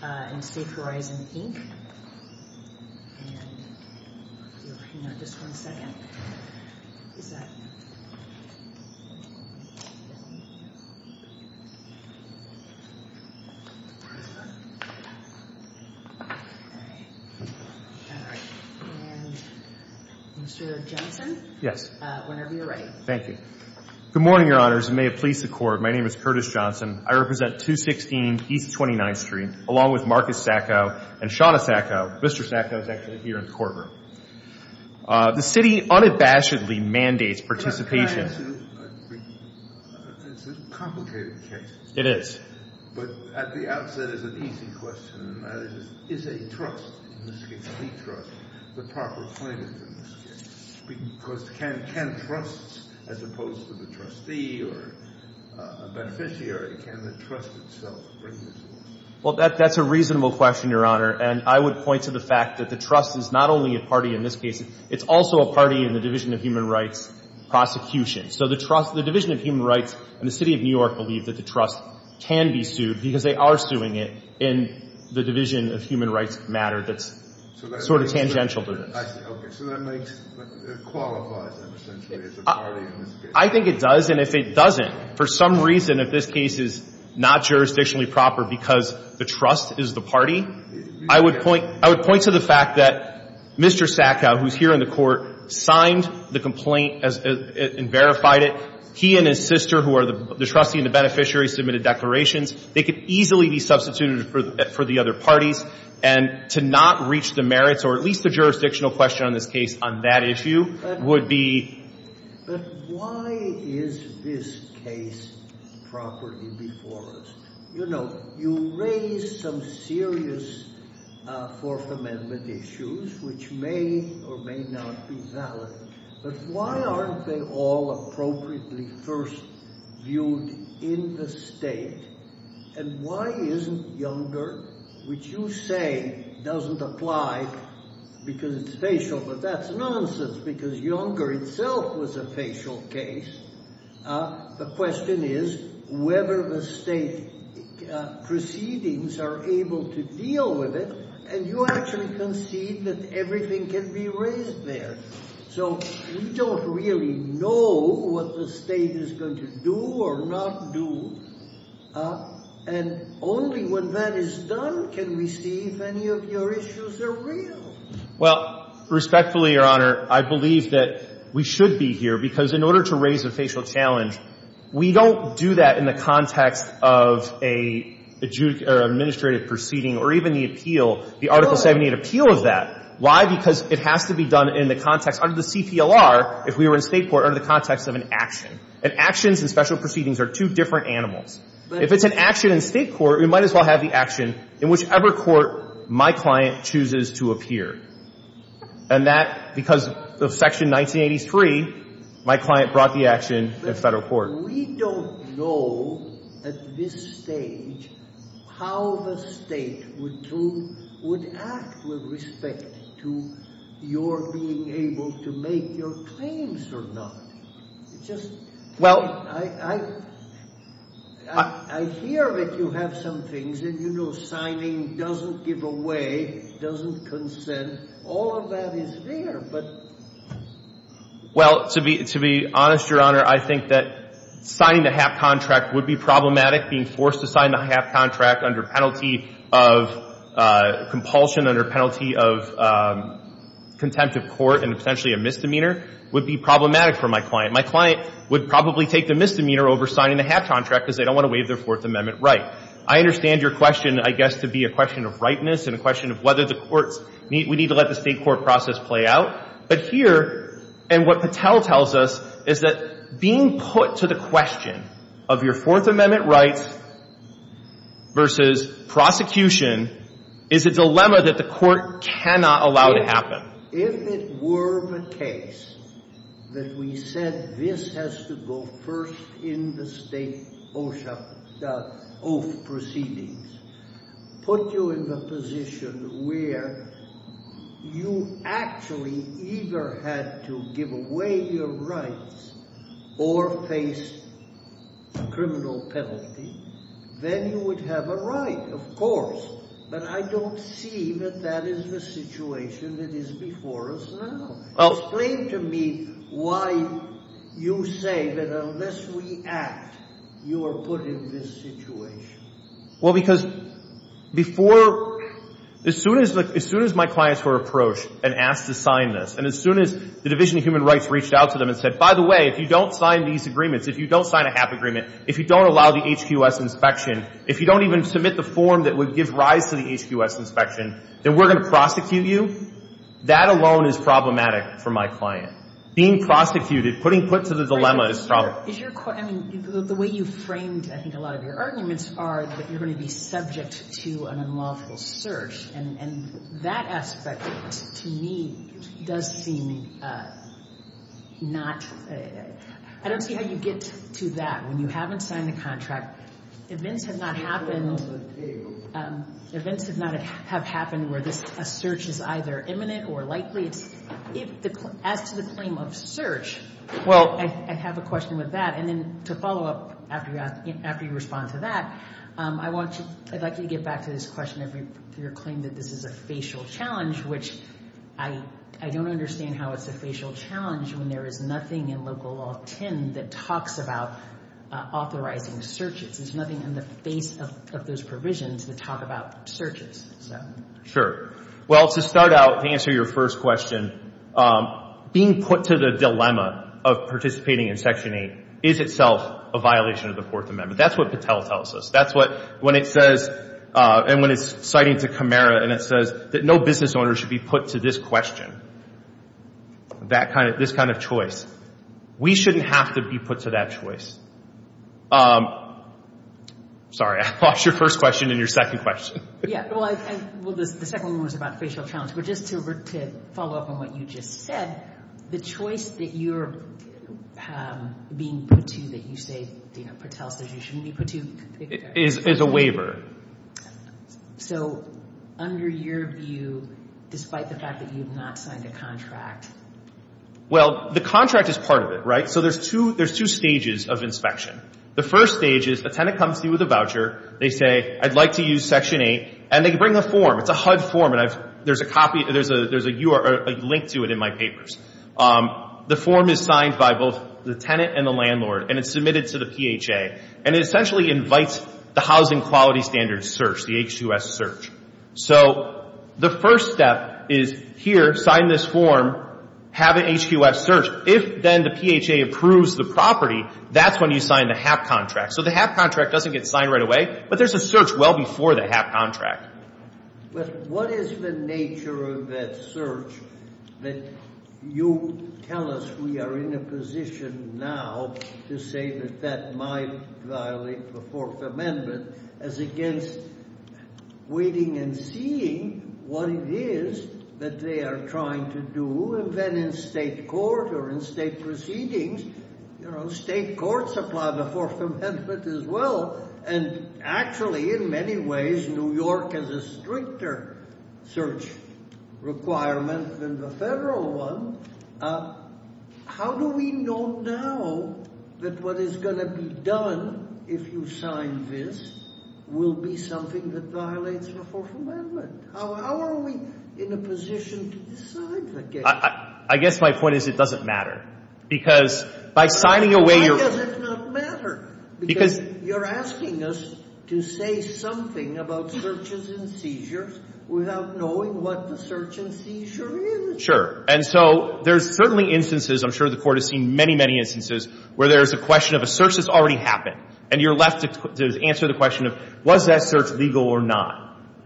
and Safe Horizon, Inc. And if you'll hang on just one second. Is that? And Mr. Jensen? Yes. Whenever you're ready. Thank you. Good morning, Your Honors, and may it please the Court, my name is Curtis Johnson. I represent 216 East 29th Street, along with Marcus Sacco and Shawna Sacco. Mr. Sacco is actually here in the courtroom. The City unabashedly mandates participation. It's a complicated case. It is. But at the outset, it's an easy question. The question is, is a trust, in this case a plea trust, the proper plaintiff, in this case? Because can trusts, as opposed to the trustee or a beneficiary, can the trust itself bring this forward? Well, that's a reasonable question, Your Honor. And I would point to the fact that the trust is not only a party in this case, it's also a party in the Division of Human Rights prosecution. So the trust — the Division of Human Rights and the City of New York believe that the trust can be sued because they are suing it in the Division of Human Rights matter that's sort of tangential to this. I see. Okay. So that makes — it qualifies, essentially, as a party in this case. I think it does. And if it doesn't, for some reason, if this case is not jurisdictionally proper because the trust is the party, I would point — I would point to the fact that Mr. Sacco, who's here in the Court, signed the complaint and verified it. He and his client, the beneficiary, submitted declarations. They could easily be substituted for the other parties. And to not reach the merits, or at least the jurisdictional question on this case on that issue, would be — But why is this case properly before us? You know, you raise some serious Fourth Amendment issues, which may or may not be valid, but why aren't they all appropriately first viewed in the state? And why isn't Younger, which you say doesn't apply because it's facial, but that's nonsense because Younger itself was a facial case. The question is whether the state proceedings are able to deal with it, and you actually concede that everything can be raised there. So we don't really know what the state is going to do or not do. And only when that is done can we see if any of your issues are real. Well, respectfully, Your Honor, I believe that we should be here, because in order to raise a facial challenge, we don't do that in the context of a — or an administrative proceeding or even the appeal, the Article 78 appeal of that. Why? Because it has to be done in the context — under the CPLR, if we were in State court, under the context of an action. And actions and special proceedings are two different animals. If it's an action in State court, we might as well have the action in whichever court my client chooses to appear. And that, because of Section 1983, my client brought the action in Federal court. Your Honor, we don't know at this stage how the state would act with respect to your being able to make your claims or not. It's just — I hear that you have some things, and you know signing doesn't give away, doesn't consent. All of that is there, but — Well, to be honest, Your Honor, I think that signing the HAP contract would be problematic. Being forced to sign the HAP contract under penalty of compulsion, under penalty of contempt of court and potentially a misdemeanor would be problematic for my client. My client would probably take the misdemeanor over signing the HAP contract, because they don't want to waive their Fourth Amendment right. I understand your question, I guess, to be a question of rightness and a question of whether the courts — we need to let the state court process play out. But here, and what Patel tells us, is that being put to the question of your Fourth Amendment rights versus prosecution is a dilemma that the court cannot allow to happen. If it were the case that we said this has to go first in the state oath proceedings, put you in the position where you actually either had to give away your rights or face criminal penalty, then you would have a right, of course. But I don't see that that is the situation that is before us now. Explain to me why you say that unless we act, you are put in this situation. Well, because before — as soon as my clients were approached and asked to sign this, and as soon as the Division of Human Rights reached out to them and said, by the way, if you don't sign these agreements, if you don't sign a HAP agreement, if you don't allow the HQS inspection, if you don't even submit the form that would give rise to the HQS inspection, then we're going to prosecute you, that alone is problematic for my client. Being prosecuted, putting put to the dilemma is — Is your — I mean, the way you framed, I think, a lot of your arguments are that you're going to be subject to an unlawful search. And that aspect, to me, does seem not — I don't see how you get to that when you haven't signed the contract. Events have not happened — events have not — have happened where this — a search is either imminent or likely. As to the claim of search, well, I have a question with that. And then to follow up after you respond to that, I want to — I'd like you to get back to this question of your claim that this is a facial challenge, which I don't understand how it's a facial challenge when there is nothing in Local Law 10 that talks about authorizing searches. There's nothing in the face of those provisions that talk about searches. Sure. Well, to start out, to answer your first question, being put to the dilemma of participating in Section 8 is itself a violation of the Fourth Amendment. That's what Patel tells us. That's what — when it says — and when it's citing to Camara, and it says that no business owner should be put to this question, that kind of — this kind of choice, we shouldn't have to be put to that choice. Sorry. I lost your first question and your second question. Yeah. Well, I — well, the second one was about facial challenge. But just to follow up on what you just said, the choice that you're being put to that you say, you know, Patel says you shouldn't be put to — Is a waiver. So under your view, despite the fact that you have not signed a contract — Well, the contract is part of it, right? So there's two — there's two stages of inspection. The first stage is a tenant comes to you with a voucher. They say, I'd like to use Section 8. And they bring a form. It's a HUD form. And I've — there's a copy — there's a — there's a URL — a link to it in my papers. The form is signed by both the tenant and the landlord. And it's submitted to the PHA. And it essentially invites the Housing Quality Standards search, the H2S search. So the first step is, here, sign this form, have an H2S search. If then the PHA approves the property, that's when you sign the HAP contract. So the HAP contract doesn't get signed right away, but there's a search well before the HAP contract. But what is the nature of that search that you tell us we are in a position now to say that that might violate the Fourth Amendment as against waiting and seeing what it is that they are trying to do. And then in state court or in state proceedings, you know, state courts apply the Fourth Amendment as well. And actually, in many ways, New York has a stricter search requirement than the federal one. How do we know now that what is going to be done if you sign this will be something that violates the Fourth Amendment? How are we in a position to decide the case? I guess my point is it doesn't matter. Because by signing away your — Why does it not matter? Because you're asking us to say something about searches and seizures without knowing what the search and seizure is. Sure. And so there's certainly instances — I'm sure the Court has seen many, many instances where there's a question of a search that's already happened, and you're left to answer the question of, was that search legal or not?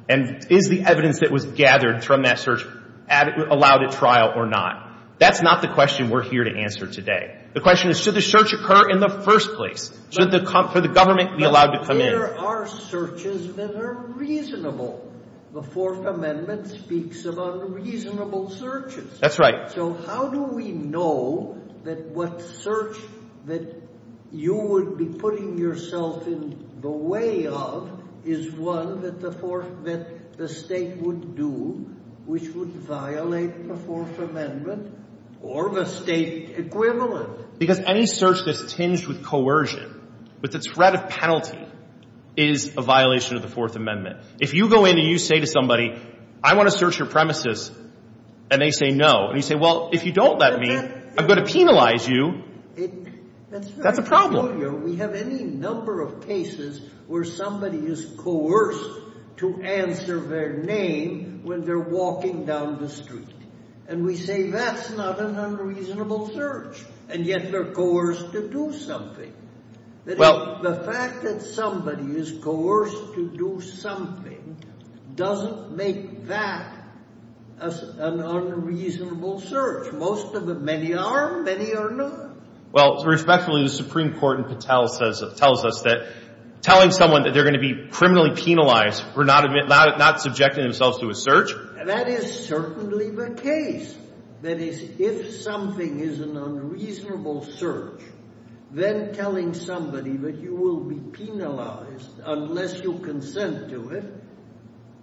And is the evidence that was gathered from that search allowed at trial or not? That's not the question we're here to answer today. The question is, should the search occur in the first place? Should the government be allowed to come in? But there are searches that are reasonable. The Fourth Amendment speaks of unreasonable searches. That's right. So how do we know that what search that you would be putting yourself in the way of is one that the Fourth — that the State would do, which would violate the Fourth Amendment or the State equivalent? Because any search that's tinged with coercion, with the threat of penalty, is a violation of the Fourth Amendment. If you go in and you say to somebody, I want to search your Well, if you don't let me, I'm going to penalize you, that's a problem. We have any number of cases where somebody is coerced to answer their name when they're walking down the street. And we say that's not an unreasonable search. And yet they're coerced to do something. The fact that somebody is coerced to do something doesn't make that an unreasonable search. Most of them — many are, many are not. Well, respectfully, the Supreme Court in Patel says — tells us that telling someone that they're going to be criminally penalized for not subjecting themselves to a search That is certainly the case. That is, if something is an unreasonable search, then telling somebody that you will be penalized unless you consent to it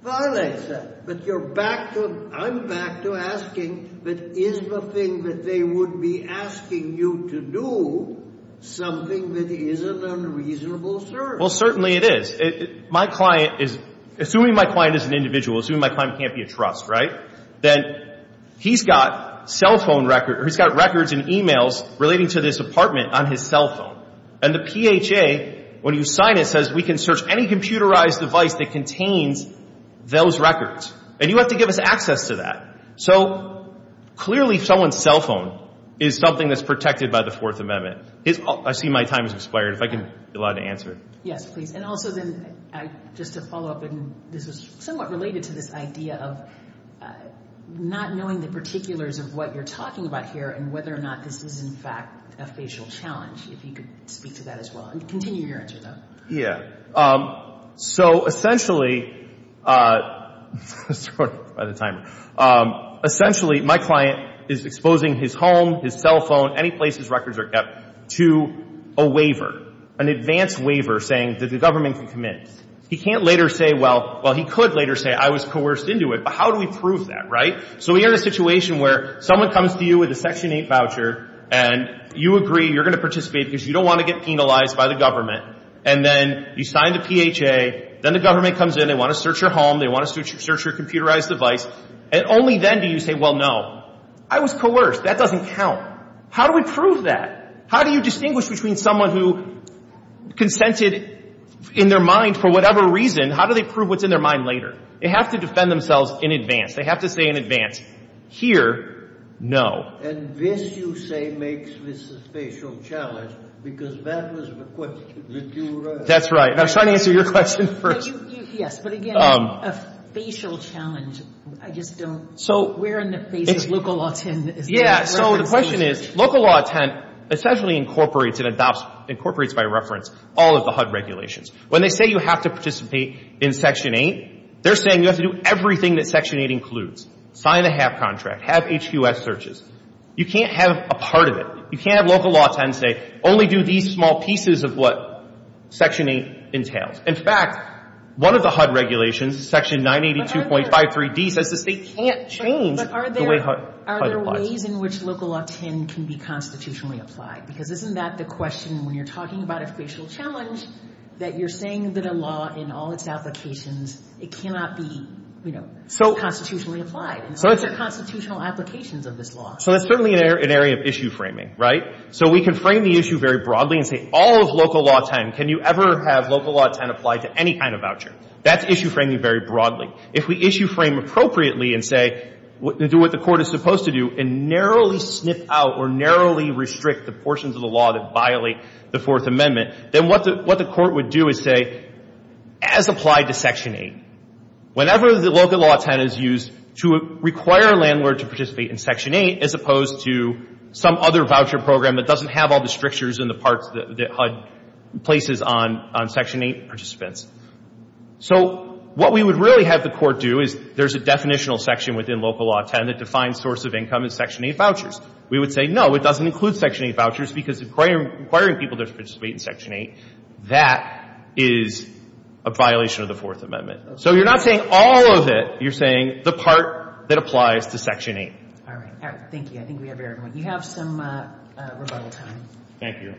violates that. But you're back to — I'm back to asking, but is the thing that they would be asking you to do something that is an unreasonable search? Well, certainly it is. My client is — assuming my client is an individual, assuming my client can't be a trust, right, then he's got cell phone records — he's got records and e-mails relating to this apartment on his cell phone. And the PHA, when you sign it, says we can search any computerized device that contains those records. And you have to give us access to that. So clearly someone's cell phone is something that's protected by the Fourth Amendment. I see my time has expired. If I can be allowed to answer. Yes, please. And also then, just to follow up, and this is somewhat related to this idea of not knowing the particulars of what you're talking about here and whether or not this is, in fact, a facial challenge, if you could speak to that as well. And continue your answer, though. Yeah. So essentially — sorry about the timer. Essentially, my client is exposing his home, his cell phone, any place his records are kept, to a waiver, an advance waiver saying that the government can come in. He can't later say — well, he could later say, I was coerced into it. But how do we prove that, right? So we're in a situation where someone comes to you with a Section 8 voucher, and you agree you're going to participate because you don't want to get penalized by the government. And then you sign the PHA. Then the government comes in. They want to search your home. They want to search your computerized device. And only then do you say, well, no, I was How do we prove that? How do you distinguish between someone who consented in their mind for whatever reason? How do they prove what's in their mind later? They have to defend themselves in advance. They have to say in advance, here, no. And this, you say, makes this a facial challenge because that was the question that you raised. That's right. And I'm trying to answer your question first. Yes, but again, a facial challenge, I just don't — So — Where in the face does Luca Lawton — Yeah, so the question is, Luca Lawton essentially incorporates and adopts, incorporates by reference, all of the HUD regulations. When they say you have to participate in Section 8, they're saying you have to do everything that Section 8 includes. Sign the HAP contract. Have HQS searches. You can't have a part of it. You can't have Luca Lawton say, only do these small pieces of what Section 8 entails. In fact, one of the HUD regulations, Section 982.53d, says the state can't change the way HUD applies. But are there ways in which Luca Lawton can be constitutionally applied? Because isn't that the question when you're talking about a facial challenge, that you're saying that a law, in all its applications, it cannot be, you know, constitutionally applied? And what are the constitutional applications of this law? So that's certainly an area of issue framing, right? So we can frame the issue very broadly and say, all of Luca Lawton, can you ever have Luca Lawton apply to any kind of voucher? That's issue framing very broadly. If we issue frame appropriately and say, do what the Court is supposed to do, and narrowly snip out or narrowly restrict the portions of the law that violate the Fourth Amendment, then what the Court would do is say, as applied to Section 8, whenever the Luca Lawton is used to require a landlord to participate in Section 8 as opposed to some other voucher program that doesn't have all the strictures and the parts that HUD places on Section 8 participants. So what we would really have the Court do is there's a definitional section within Luca Lawton that defines source of income as Section 8 vouchers. We would say, no, it doesn't include Section 8 vouchers because requiring people to participate in Section 8, that is a violation of the Fourth Amendment. So you're not saying all of it. You're saying the part that applies to Section 8. All right. All right. Thank you. I think we have everyone. You have some rebuttal time. Thank you.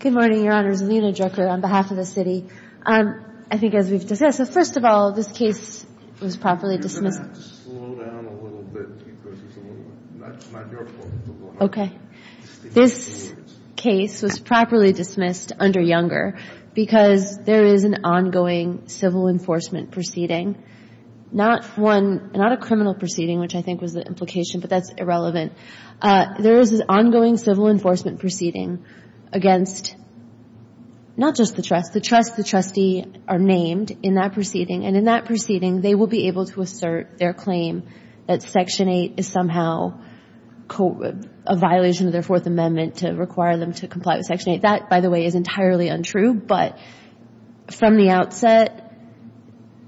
Good morning, Your Honors. Alina Drucker on behalf of the city. I think as we've discussed, first of all, this case was properly dismissed. You're going to have to slow down a little bit because it's a little, not your fault. Okay. This case was properly dismissed under Younger because there is an ongoing civil enforcement proceeding, not one, not a criminal proceeding, which I think was the implication, but that's irrelevant. There is an ongoing civil enforcement proceeding against not just the trust. The trust, the trustee are named in that proceeding. And in that proceeding, they will be able to assert their claim that Section 8 is somehow a violation of their Fourth Amendment to require them to comply with Section 8. That, by the way, is entirely untrue. But from the outset,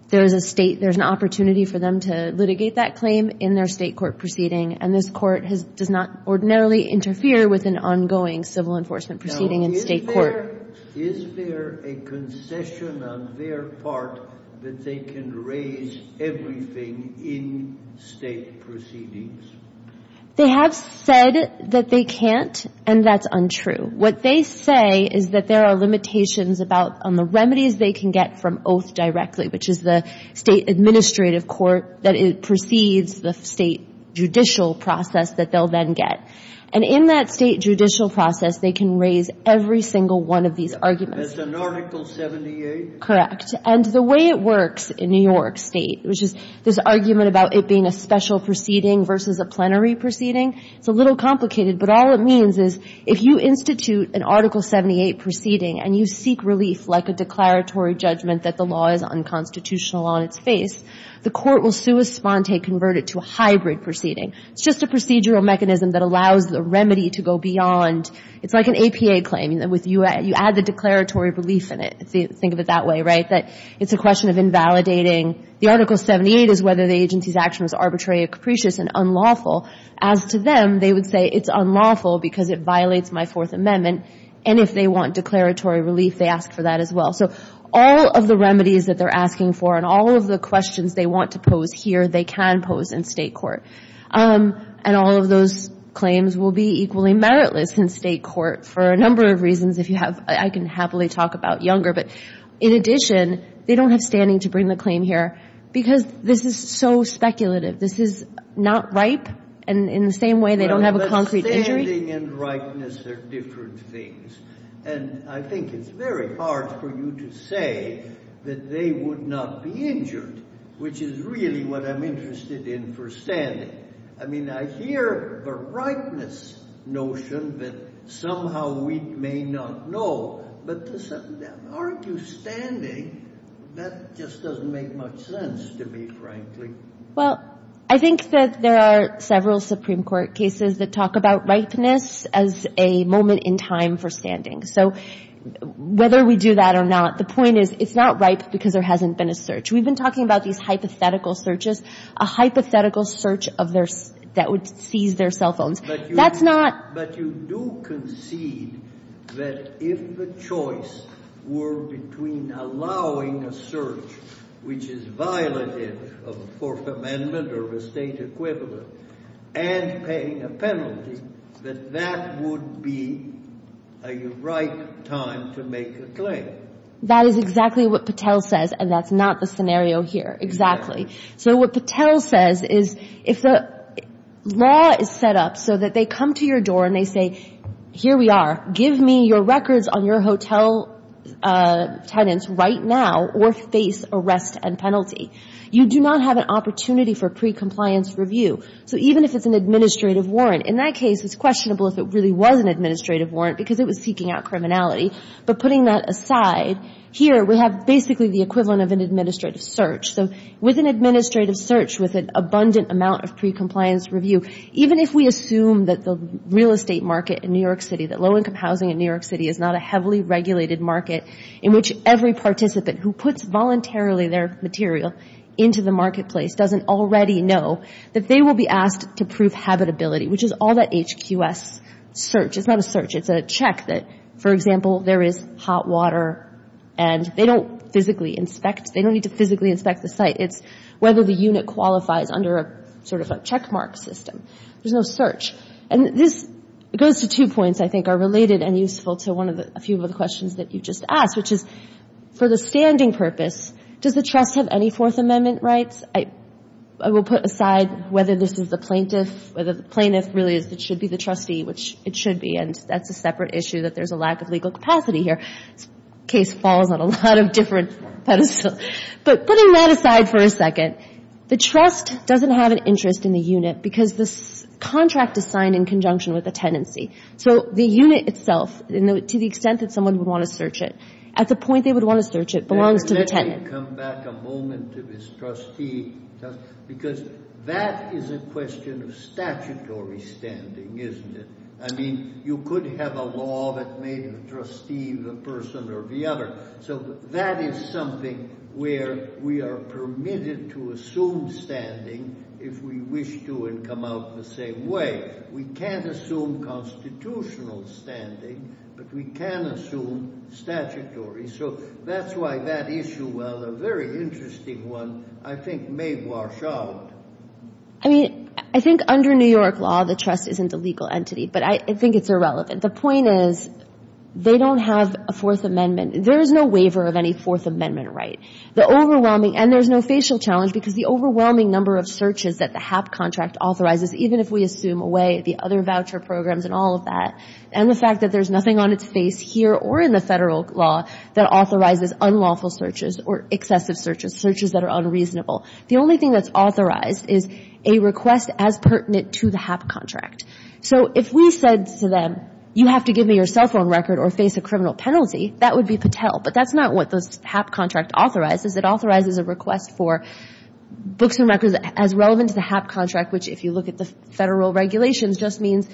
there's an opportunity for them to litigate that claim in their state court proceeding. And this court does not ordinarily interfere with an ongoing civil enforcement proceeding in state court. Now, is there a concession on their part that they can raise everything in state proceedings? They have said that they can't, and that's untrue. What they say is that there are limitations about on the remedies they can get from oath directly, which is the state administrative court, that it precedes the state judicial process that they'll then get. And in that state judicial process, they can raise every single one of these arguments. That's in Article 78? Correct. And the way it works in New York State, which is this argument about it being a special proceeding versus a plenary proceeding, it's a little complicated. But all it means is if you institute an Article 78 proceeding and you seek relief like a declaratory judgment that the law is unconstitutional on its face, the court will sua sponte convert it to a hybrid proceeding. It's just a procedural mechanism that allows the remedy to go beyond. It's like an APA claim. You add the declaratory relief in it. Think of it that way, right, that it's a question of invalidating. The Article 78 is whether the agency's action was arbitrary or capricious and unlawful. As to them, they would say it's unlawful because it violates my Fourth Amendment. And if they want declaratory relief, they ask for that as well. So all of the remedies that they're asking for and all of the questions they want to pose here, they can pose in state court. And all of those claims will be equally meritless in state court for a number of reasons, if you have – I can happily talk about younger. But in addition, they don't have standing to bring the claim here because this is so speculative. This is not ripe. And in the same way, they don't have a concrete injury. But standing and ripeness are different things. And I think it's very hard for you to say that they would not be injured, which is really what I'm interested in for standing. I mean, I hear the ripeness notion that somehow we may not know. But to argue standing, that just doesn't make much sense to me, frankly. Well, I think that there are several Supreme Court cases that talk about ripeness as a moment in time for standing. So whether we do that or not, the point is it's not ripe because there hasn't been a search. We've been talking about these hypothetical searches, a hypothetical search of their – that would seize their cell phones. That's not – But you do concede that if the choice were between allowing a search, which is violative of the Fourth Amendment or estate equivalent, and paying a penalty, that that would be a right time to make a claim. That is exactly what Patel says, and that's not the scenario here. So what Patel says is if the law is set up so that they come to your door and they say, here we are, give me your records on your hotel tenants right now or face arrest and penalty. You do not have an opportunity for pre-compliance review. So even if it's an administrative warrant, in that case it's questionable if it really was an administrative warrant because it was seeking out criminality. But putting that aside, here we have basically the equivalent of an administrative search. So with an administrative search with an abundant amount of pre-compliance review, even if we assume that the real estate market in New York City, that low income housing in New York City is not a heavily regulated market in which every participant who puts voluntarily their material into the marketplace doesn't already know that they will be asked to prove habitability, which is all that HQS search. It's not a search. It's a check that, for example, there is hot water and they don't physically inspect. They don't need to physically inspect the site. It's whether the unit qualifies under a sort of a checkmark system. There's no search. And this goes to two points I think are related and useful to one of the, a few of the questions that you just asked, which is for the standing purpose, does the trust have any Fourth Amendment rights? I will put aside whether this is the plaintiff, whether the plaintiff really is what should be the trustee, which it should be, and that's a separate issue that there's a lack of legal capacity here. This case falls on a lot of different pedestals. But putting that aside for a second, the trust doesn't have an interest in the unit because this contract is signed in conjunction with a tenancy. So the unit itself, to the extent that someone would want to search it, at the point they would want to search it belongs to the tenant. Let me come back a moment to this trustee, because that is a question of statutory standing, isn't it? I mean, you could have a law that made a trustee the person or the other. So that is something where we are permitted to assume standing if we wish to and come out the same way. We can't assume constitutional standing, but we can assume statutory. So that's why that issue, while a very interesting one, I think may wash out. I mean, I think under New York law the trust isn't a legal entity, but I think it's irrelevant. The point is they don't have a Fourth Amendment. There is no waiver of any Fourth Amendment right. The overwhelming, and there's no facial challenge because the overwhelming number of searches that the HAP contract authorizes, even if we assume away the other voucher programs and all of that, and the fact that there's nothing on its face here or in the Federal law that authorizes unlawful searches or excessive searches, searches that are unreasonable. The only thing that's authorized is a request as pertinent to the HAP contract. So if we said to them, you have to give me your cell phone record or face a criminal penalty, that would be Patel. But that's not what the HAP contract authorizes. It authorizes a request for books and records as relevant to the HAP contract, which, if you look at the Federal regulations, just means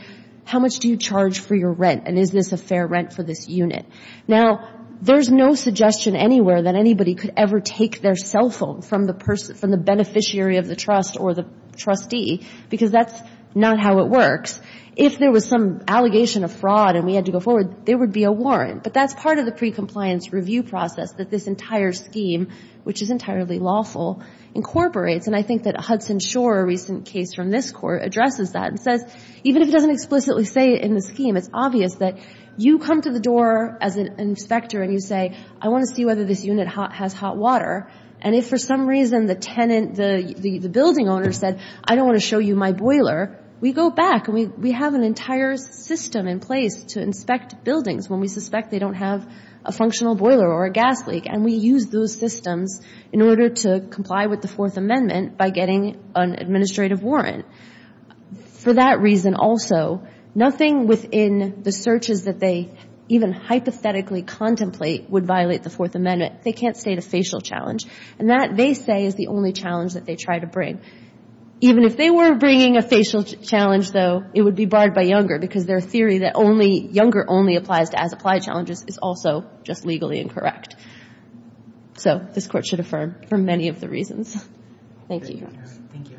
how much do you charge for your rent and is this a fair rent for this unit. Now, there's no suggestion anywhere that anybody could ever take their cell phone from the beneficiary of the trust or the trustee because that's not how it works. If there was some allegation of fraud and we had to go forward, there would be a But that's part of the precompliance review process that this entire scheme, which is entirely lawful, incorporates. And I think that Hudson Shore, a recent case from this Court, addresses that and says, even if it doesn't explicitly say it in the scheme, it's obvious that you come to the door as an inspector and you say, I want to see whether this unit has hot water. And if for some reason the tenant, the building owner said, I don't want to show you my boiler, we go back and we have an entire system in place to inspect buildings when we suspect they don't have a functional boiler or a gas leak. And we use those systems in order to comply with the Fourth Amendment by getting an administrative warrant. For that reason also, nothing within the searches that they even hypothetically contemplate would violate the Fourth Amendment. They can't state a facial challenge. And that, they say, is the only challenge that they try to bring. Even if they were bringing a facial challenge, though, it would be barred by Younger because their theory that Younger only applies to as-applied challenges is also just legally incorrect. So this Court should affirm for many of the reasons. Thank you. Thank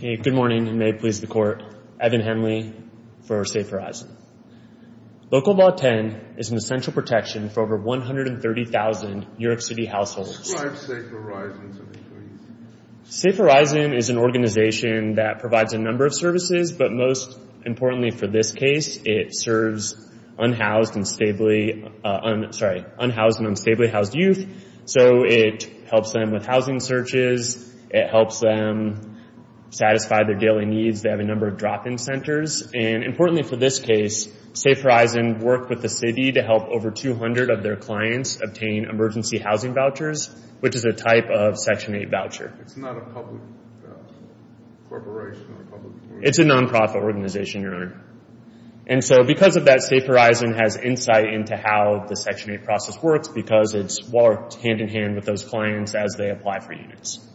you. Good morning, and may it please the Court. Evan Henley for Safe Horizon. Local Law 10 is an essential protection for over 130,000 New York City households. Describe Safe Horizon to me, please. Safe Horizon is an organization that provides a number of services, but most importantly for this case, it serves unhoused and unstably housed youth. So it helps them with housing searches. It helps them satisfy their daily needs. They have a number of drop-in centers. And importantly for this case, Safe Horizon worked with the city to help over 200 of their clients obtain emergency housing vouchers, which is a type of Section 8 voucher. It's not a public corporation or a public organization? It's a nonprofit organization, Your Honor. And so because of that, Safe Horizon has insight into how the Section 8 process works because it's worked hand-in-hand with those clients as they apply for units.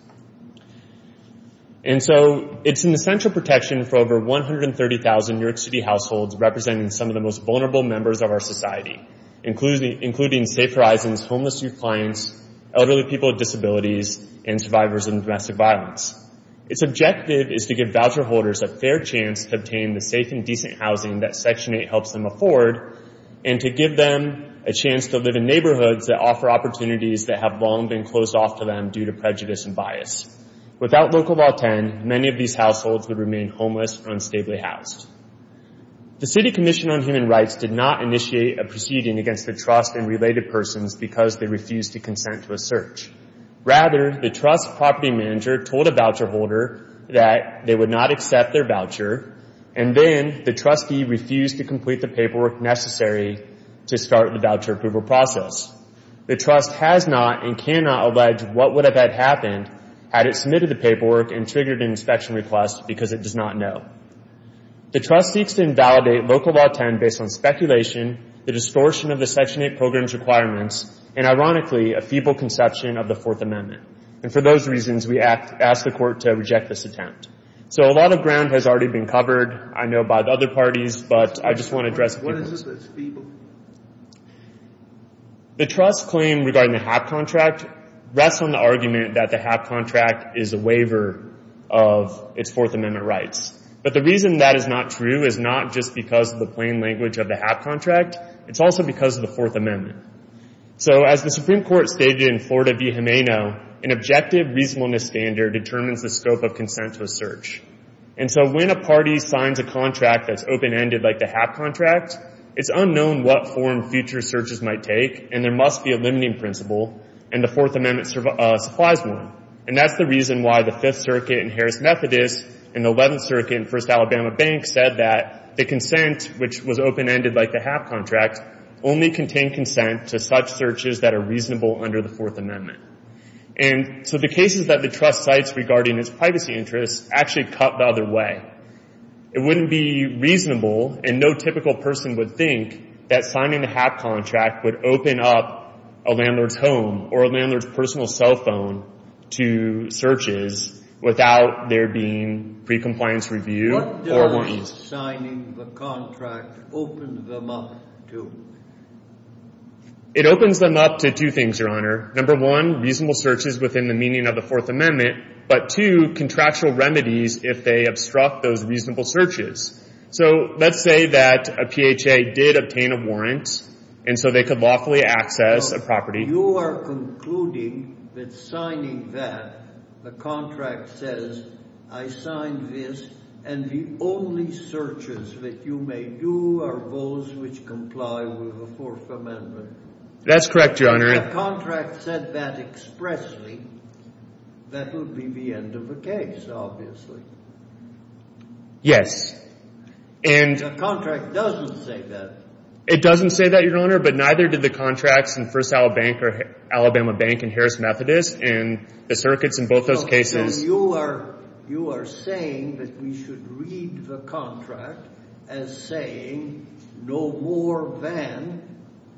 And so it's an essential protection for over 130,000 New York City households representing some of the most vulnerable members of our society, including Safe Horizon's homeless youth clients, elderly people with disabilities, and survivors of domestic violence. Its objective is to give voucher holders a fair chance to obtain the safe and decent housing that Section 8 helps them afford and to give them a chance to live in neighborhoods that offer opportunities that have long been closed off to them due to prejudice and bias. Without Local Law 10, many of these households would remain homeless or unstably housed. The City Commission on Human Rights did not initiate a proceeding against the trust and related persons because they refused to consent to a search. Rather, the trust's property manager told a voucher holder that they would not accept their voucher, and then the trustee refused to complete the paperwork necessary to start the voucher approval process. The trust has not and cannot allege what would have happened had it submitted the paperwork and triggered an inspection request because it does not know. The trust seeks to invalidate Local Law 10 based on speculation, the distortion of the Section 8 program's requirements, and, ironically, a feeble conception of the Fourth Amendment. And for those reasons, we ask the Court to reject this attempt. So a lot of ground has already been covered, I know, by the other parties, but I just want to address a few points. What is it that's feeble? The trust's claim regarding the HAP contract rests on the argument that the HAP contract is a waiver of its Fourth Amendment rights. But the reason that is not true is not just because of the plain language of the HAP contract. It's also because of the Fourth Amendment. So as the Supreme Court stated in Florida v. Gimeno, an objective reasonableness standard determines the scope of consent to a search. And so when a party signs a contract that's open-ended like the HAP contract, it's unknown what form future searches might take, and there must be a limiting principle, and the Fourth Amendment supplies one. And that's the reason why the Fifth Circuit in Harris-Methodist and the Eleventh Circuit in First Alabama Bank said that the consent, which was open-ended like the HAP contract, only contained consent to such searches that are reasonable under the Fourth Amendment. And so the cases that the trust cites regarding its privacy interests actually cut the other way. It wouldn't be reasonable, and no typical person would think, that signing the HAP contract would open up a landlord's home or a landlord's personal cell phone to searches without there being pre-compliance review or warnings. It opens them up to two things, Your Honor. Number one, reasonable searches within the meaning of the Fourth Amendment. But two, contractual remedies if they obstruct those reasonable searches. So let's say that a PHA did obtain a warrant, and so they could lawfully access a property. If the contract said that expressly, that would be the end of the case, obviously. The contract doesn't say that. It doesn't say that, Your Honor, but neither did the contracts in First Alabama Bank and Harris-Methodist, and the circuits in both those cases. Then you are saying that we should read the contract as saying no more than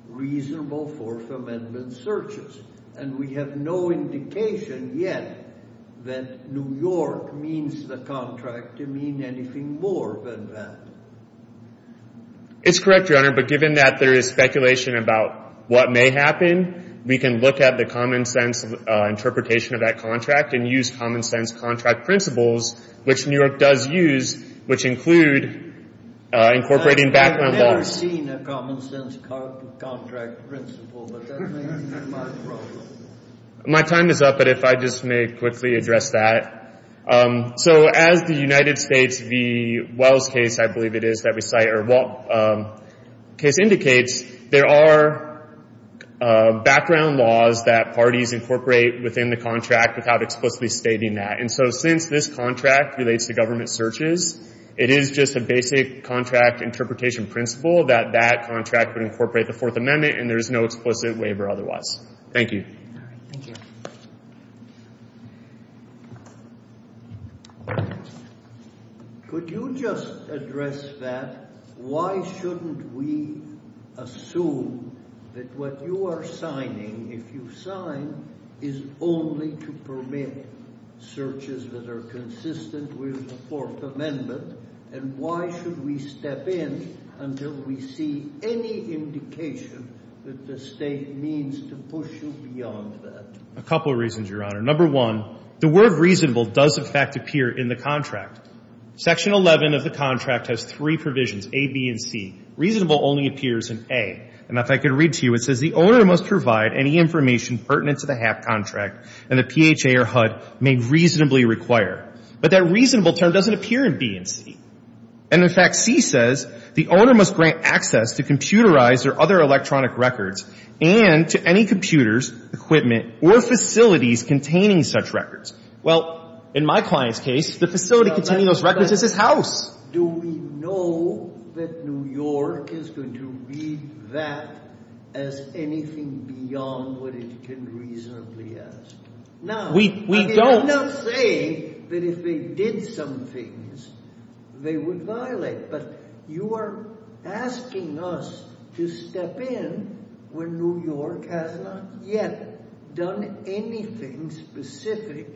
reasonable Fourth Amendment searches. And we have no indication yet that New York means the contract to mean anything more than that. It's correct, Your Honor, but given that there is speculation about what may happen, we can look at the common-sense interpretation of that contract and use common-sense contract principles, which New York does use, which include incorporating background laws. I've never seen a common-sense contract principle, but that may be my problem. My time is up, but if I just may quickly address that. So as the United States v. Wells case, I believe it is, that we cite, or case indicates, there are background laws that parties incorporate within the contract without explicitly stating that. And so since this contract relates to government searches, it is just a basic contract interpretation principle that that contract would incorporate the Fourth Amendment, and there's no explicit waiver otherwise. Thank you. All right. Thank you. Could you just address that? Why shouldn't we assume that what you are signing, if you sign, is only to permit searches that are consistent with the Fourth Amendment? And why should we step in until we see any indication that the State means to push you beyond that? A couple of reasons, Your Honor. Number one, the word reasonable does, in fact, appear in the contract. Section 11 of the contract has three provisions, A, B, and C. Reasonable only appears in A. And if I could read to you, it says, The owner must provide any information pertinent to the HAP contract, and the PHA or HUD may reasonably require. But that reasonable term doesn't appear in B and C. And, in fact, C says, The owner must grant access to computerized or other electronic records and to any computers, equipment, or facilities containing such records. Well, in my client's case, the facility containing those records is his house. Do we know that New York is going to read that as anything beyond what it can reasonably ask? No. We don't. I'm not saying that if they did some things, they would violate. But you are asking us to step in when New York has not yet done anything specific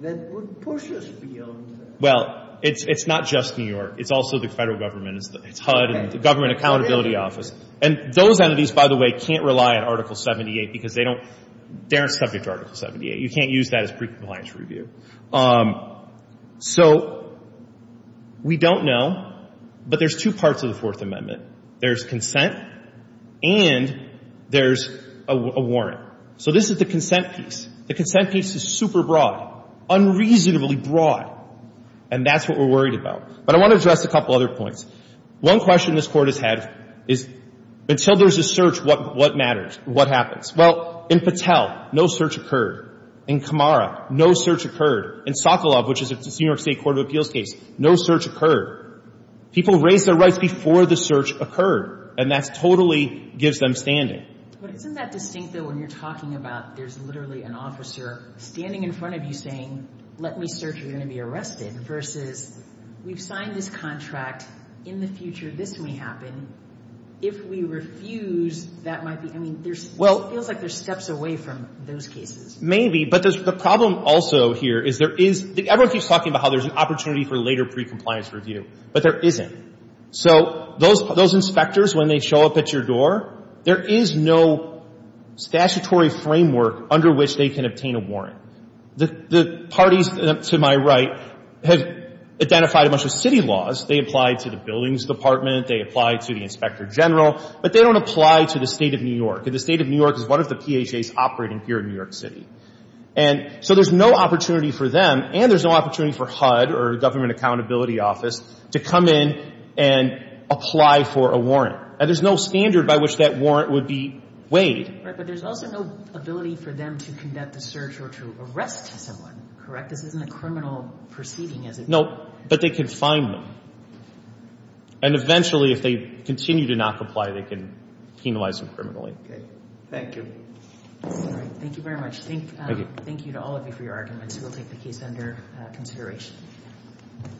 that would push us beyond that. Well, it's not just New York. It's also the Federal Government. It's HUD and the Government Accountability Office. And those entities, by the way, can't rely on Article 78 because they don't — they aren't subject to Article 78. You can't use that as pre-compliance review. So we don't know. But there's two parts of the Fourth Amendment. There's consent and there's a warrant. So this is the consent piece. The consent piece is super broad, unreasonably broad. And that's what we're worried about. But I want to address a couple other points. One question this Court has had is until there's a search, what matters? What happens? Well, in Patel, no search occurred. In Kamara, no search occurred. In Sokolov, which is a New York State Court of Appeals case, no search occurred. People raised their rights before the search occurred. And that totally gives them standing. But isn't that distinct, though, when you're talking about there's literally an officer standing in front of you saying, let me search, you're going to be arrested, versus we've signed this contract, in the future this may happen. If we refuse, that might be, I mean, there's, it feels like there's steps away from those cases. Maybe, but the problem also here is there is, everyone keeps talking about how there's an opportunity for later pre-compliance review. But there isn't. So those inspectors, when they show up at your door, there is no statutory framework under which they can obtain a warrant. The parties to my right have identified a bunch of city laws. They apply to the buildings department. They apply to the inspector general. But they don't apply to the State of New York. And the State of New York is one of the PHAs operating here in New York City. And so there's no opportunity for them, and there's no opportunity for HUD, or Government Accountability Office, to come in and apply for a warrant. And there's no standard by which that warrant would be weighed. Right, but there's also no ability for them to conduct a search or to arrest someone, correct? This isn't a criminal proceeding, is it? No, but they can find them. And eventually, if they continue to not comply, they can penalize them criminally. Thank you. Thank you very much. Thank you to all of you for your arguments. We'll take the case under consideration.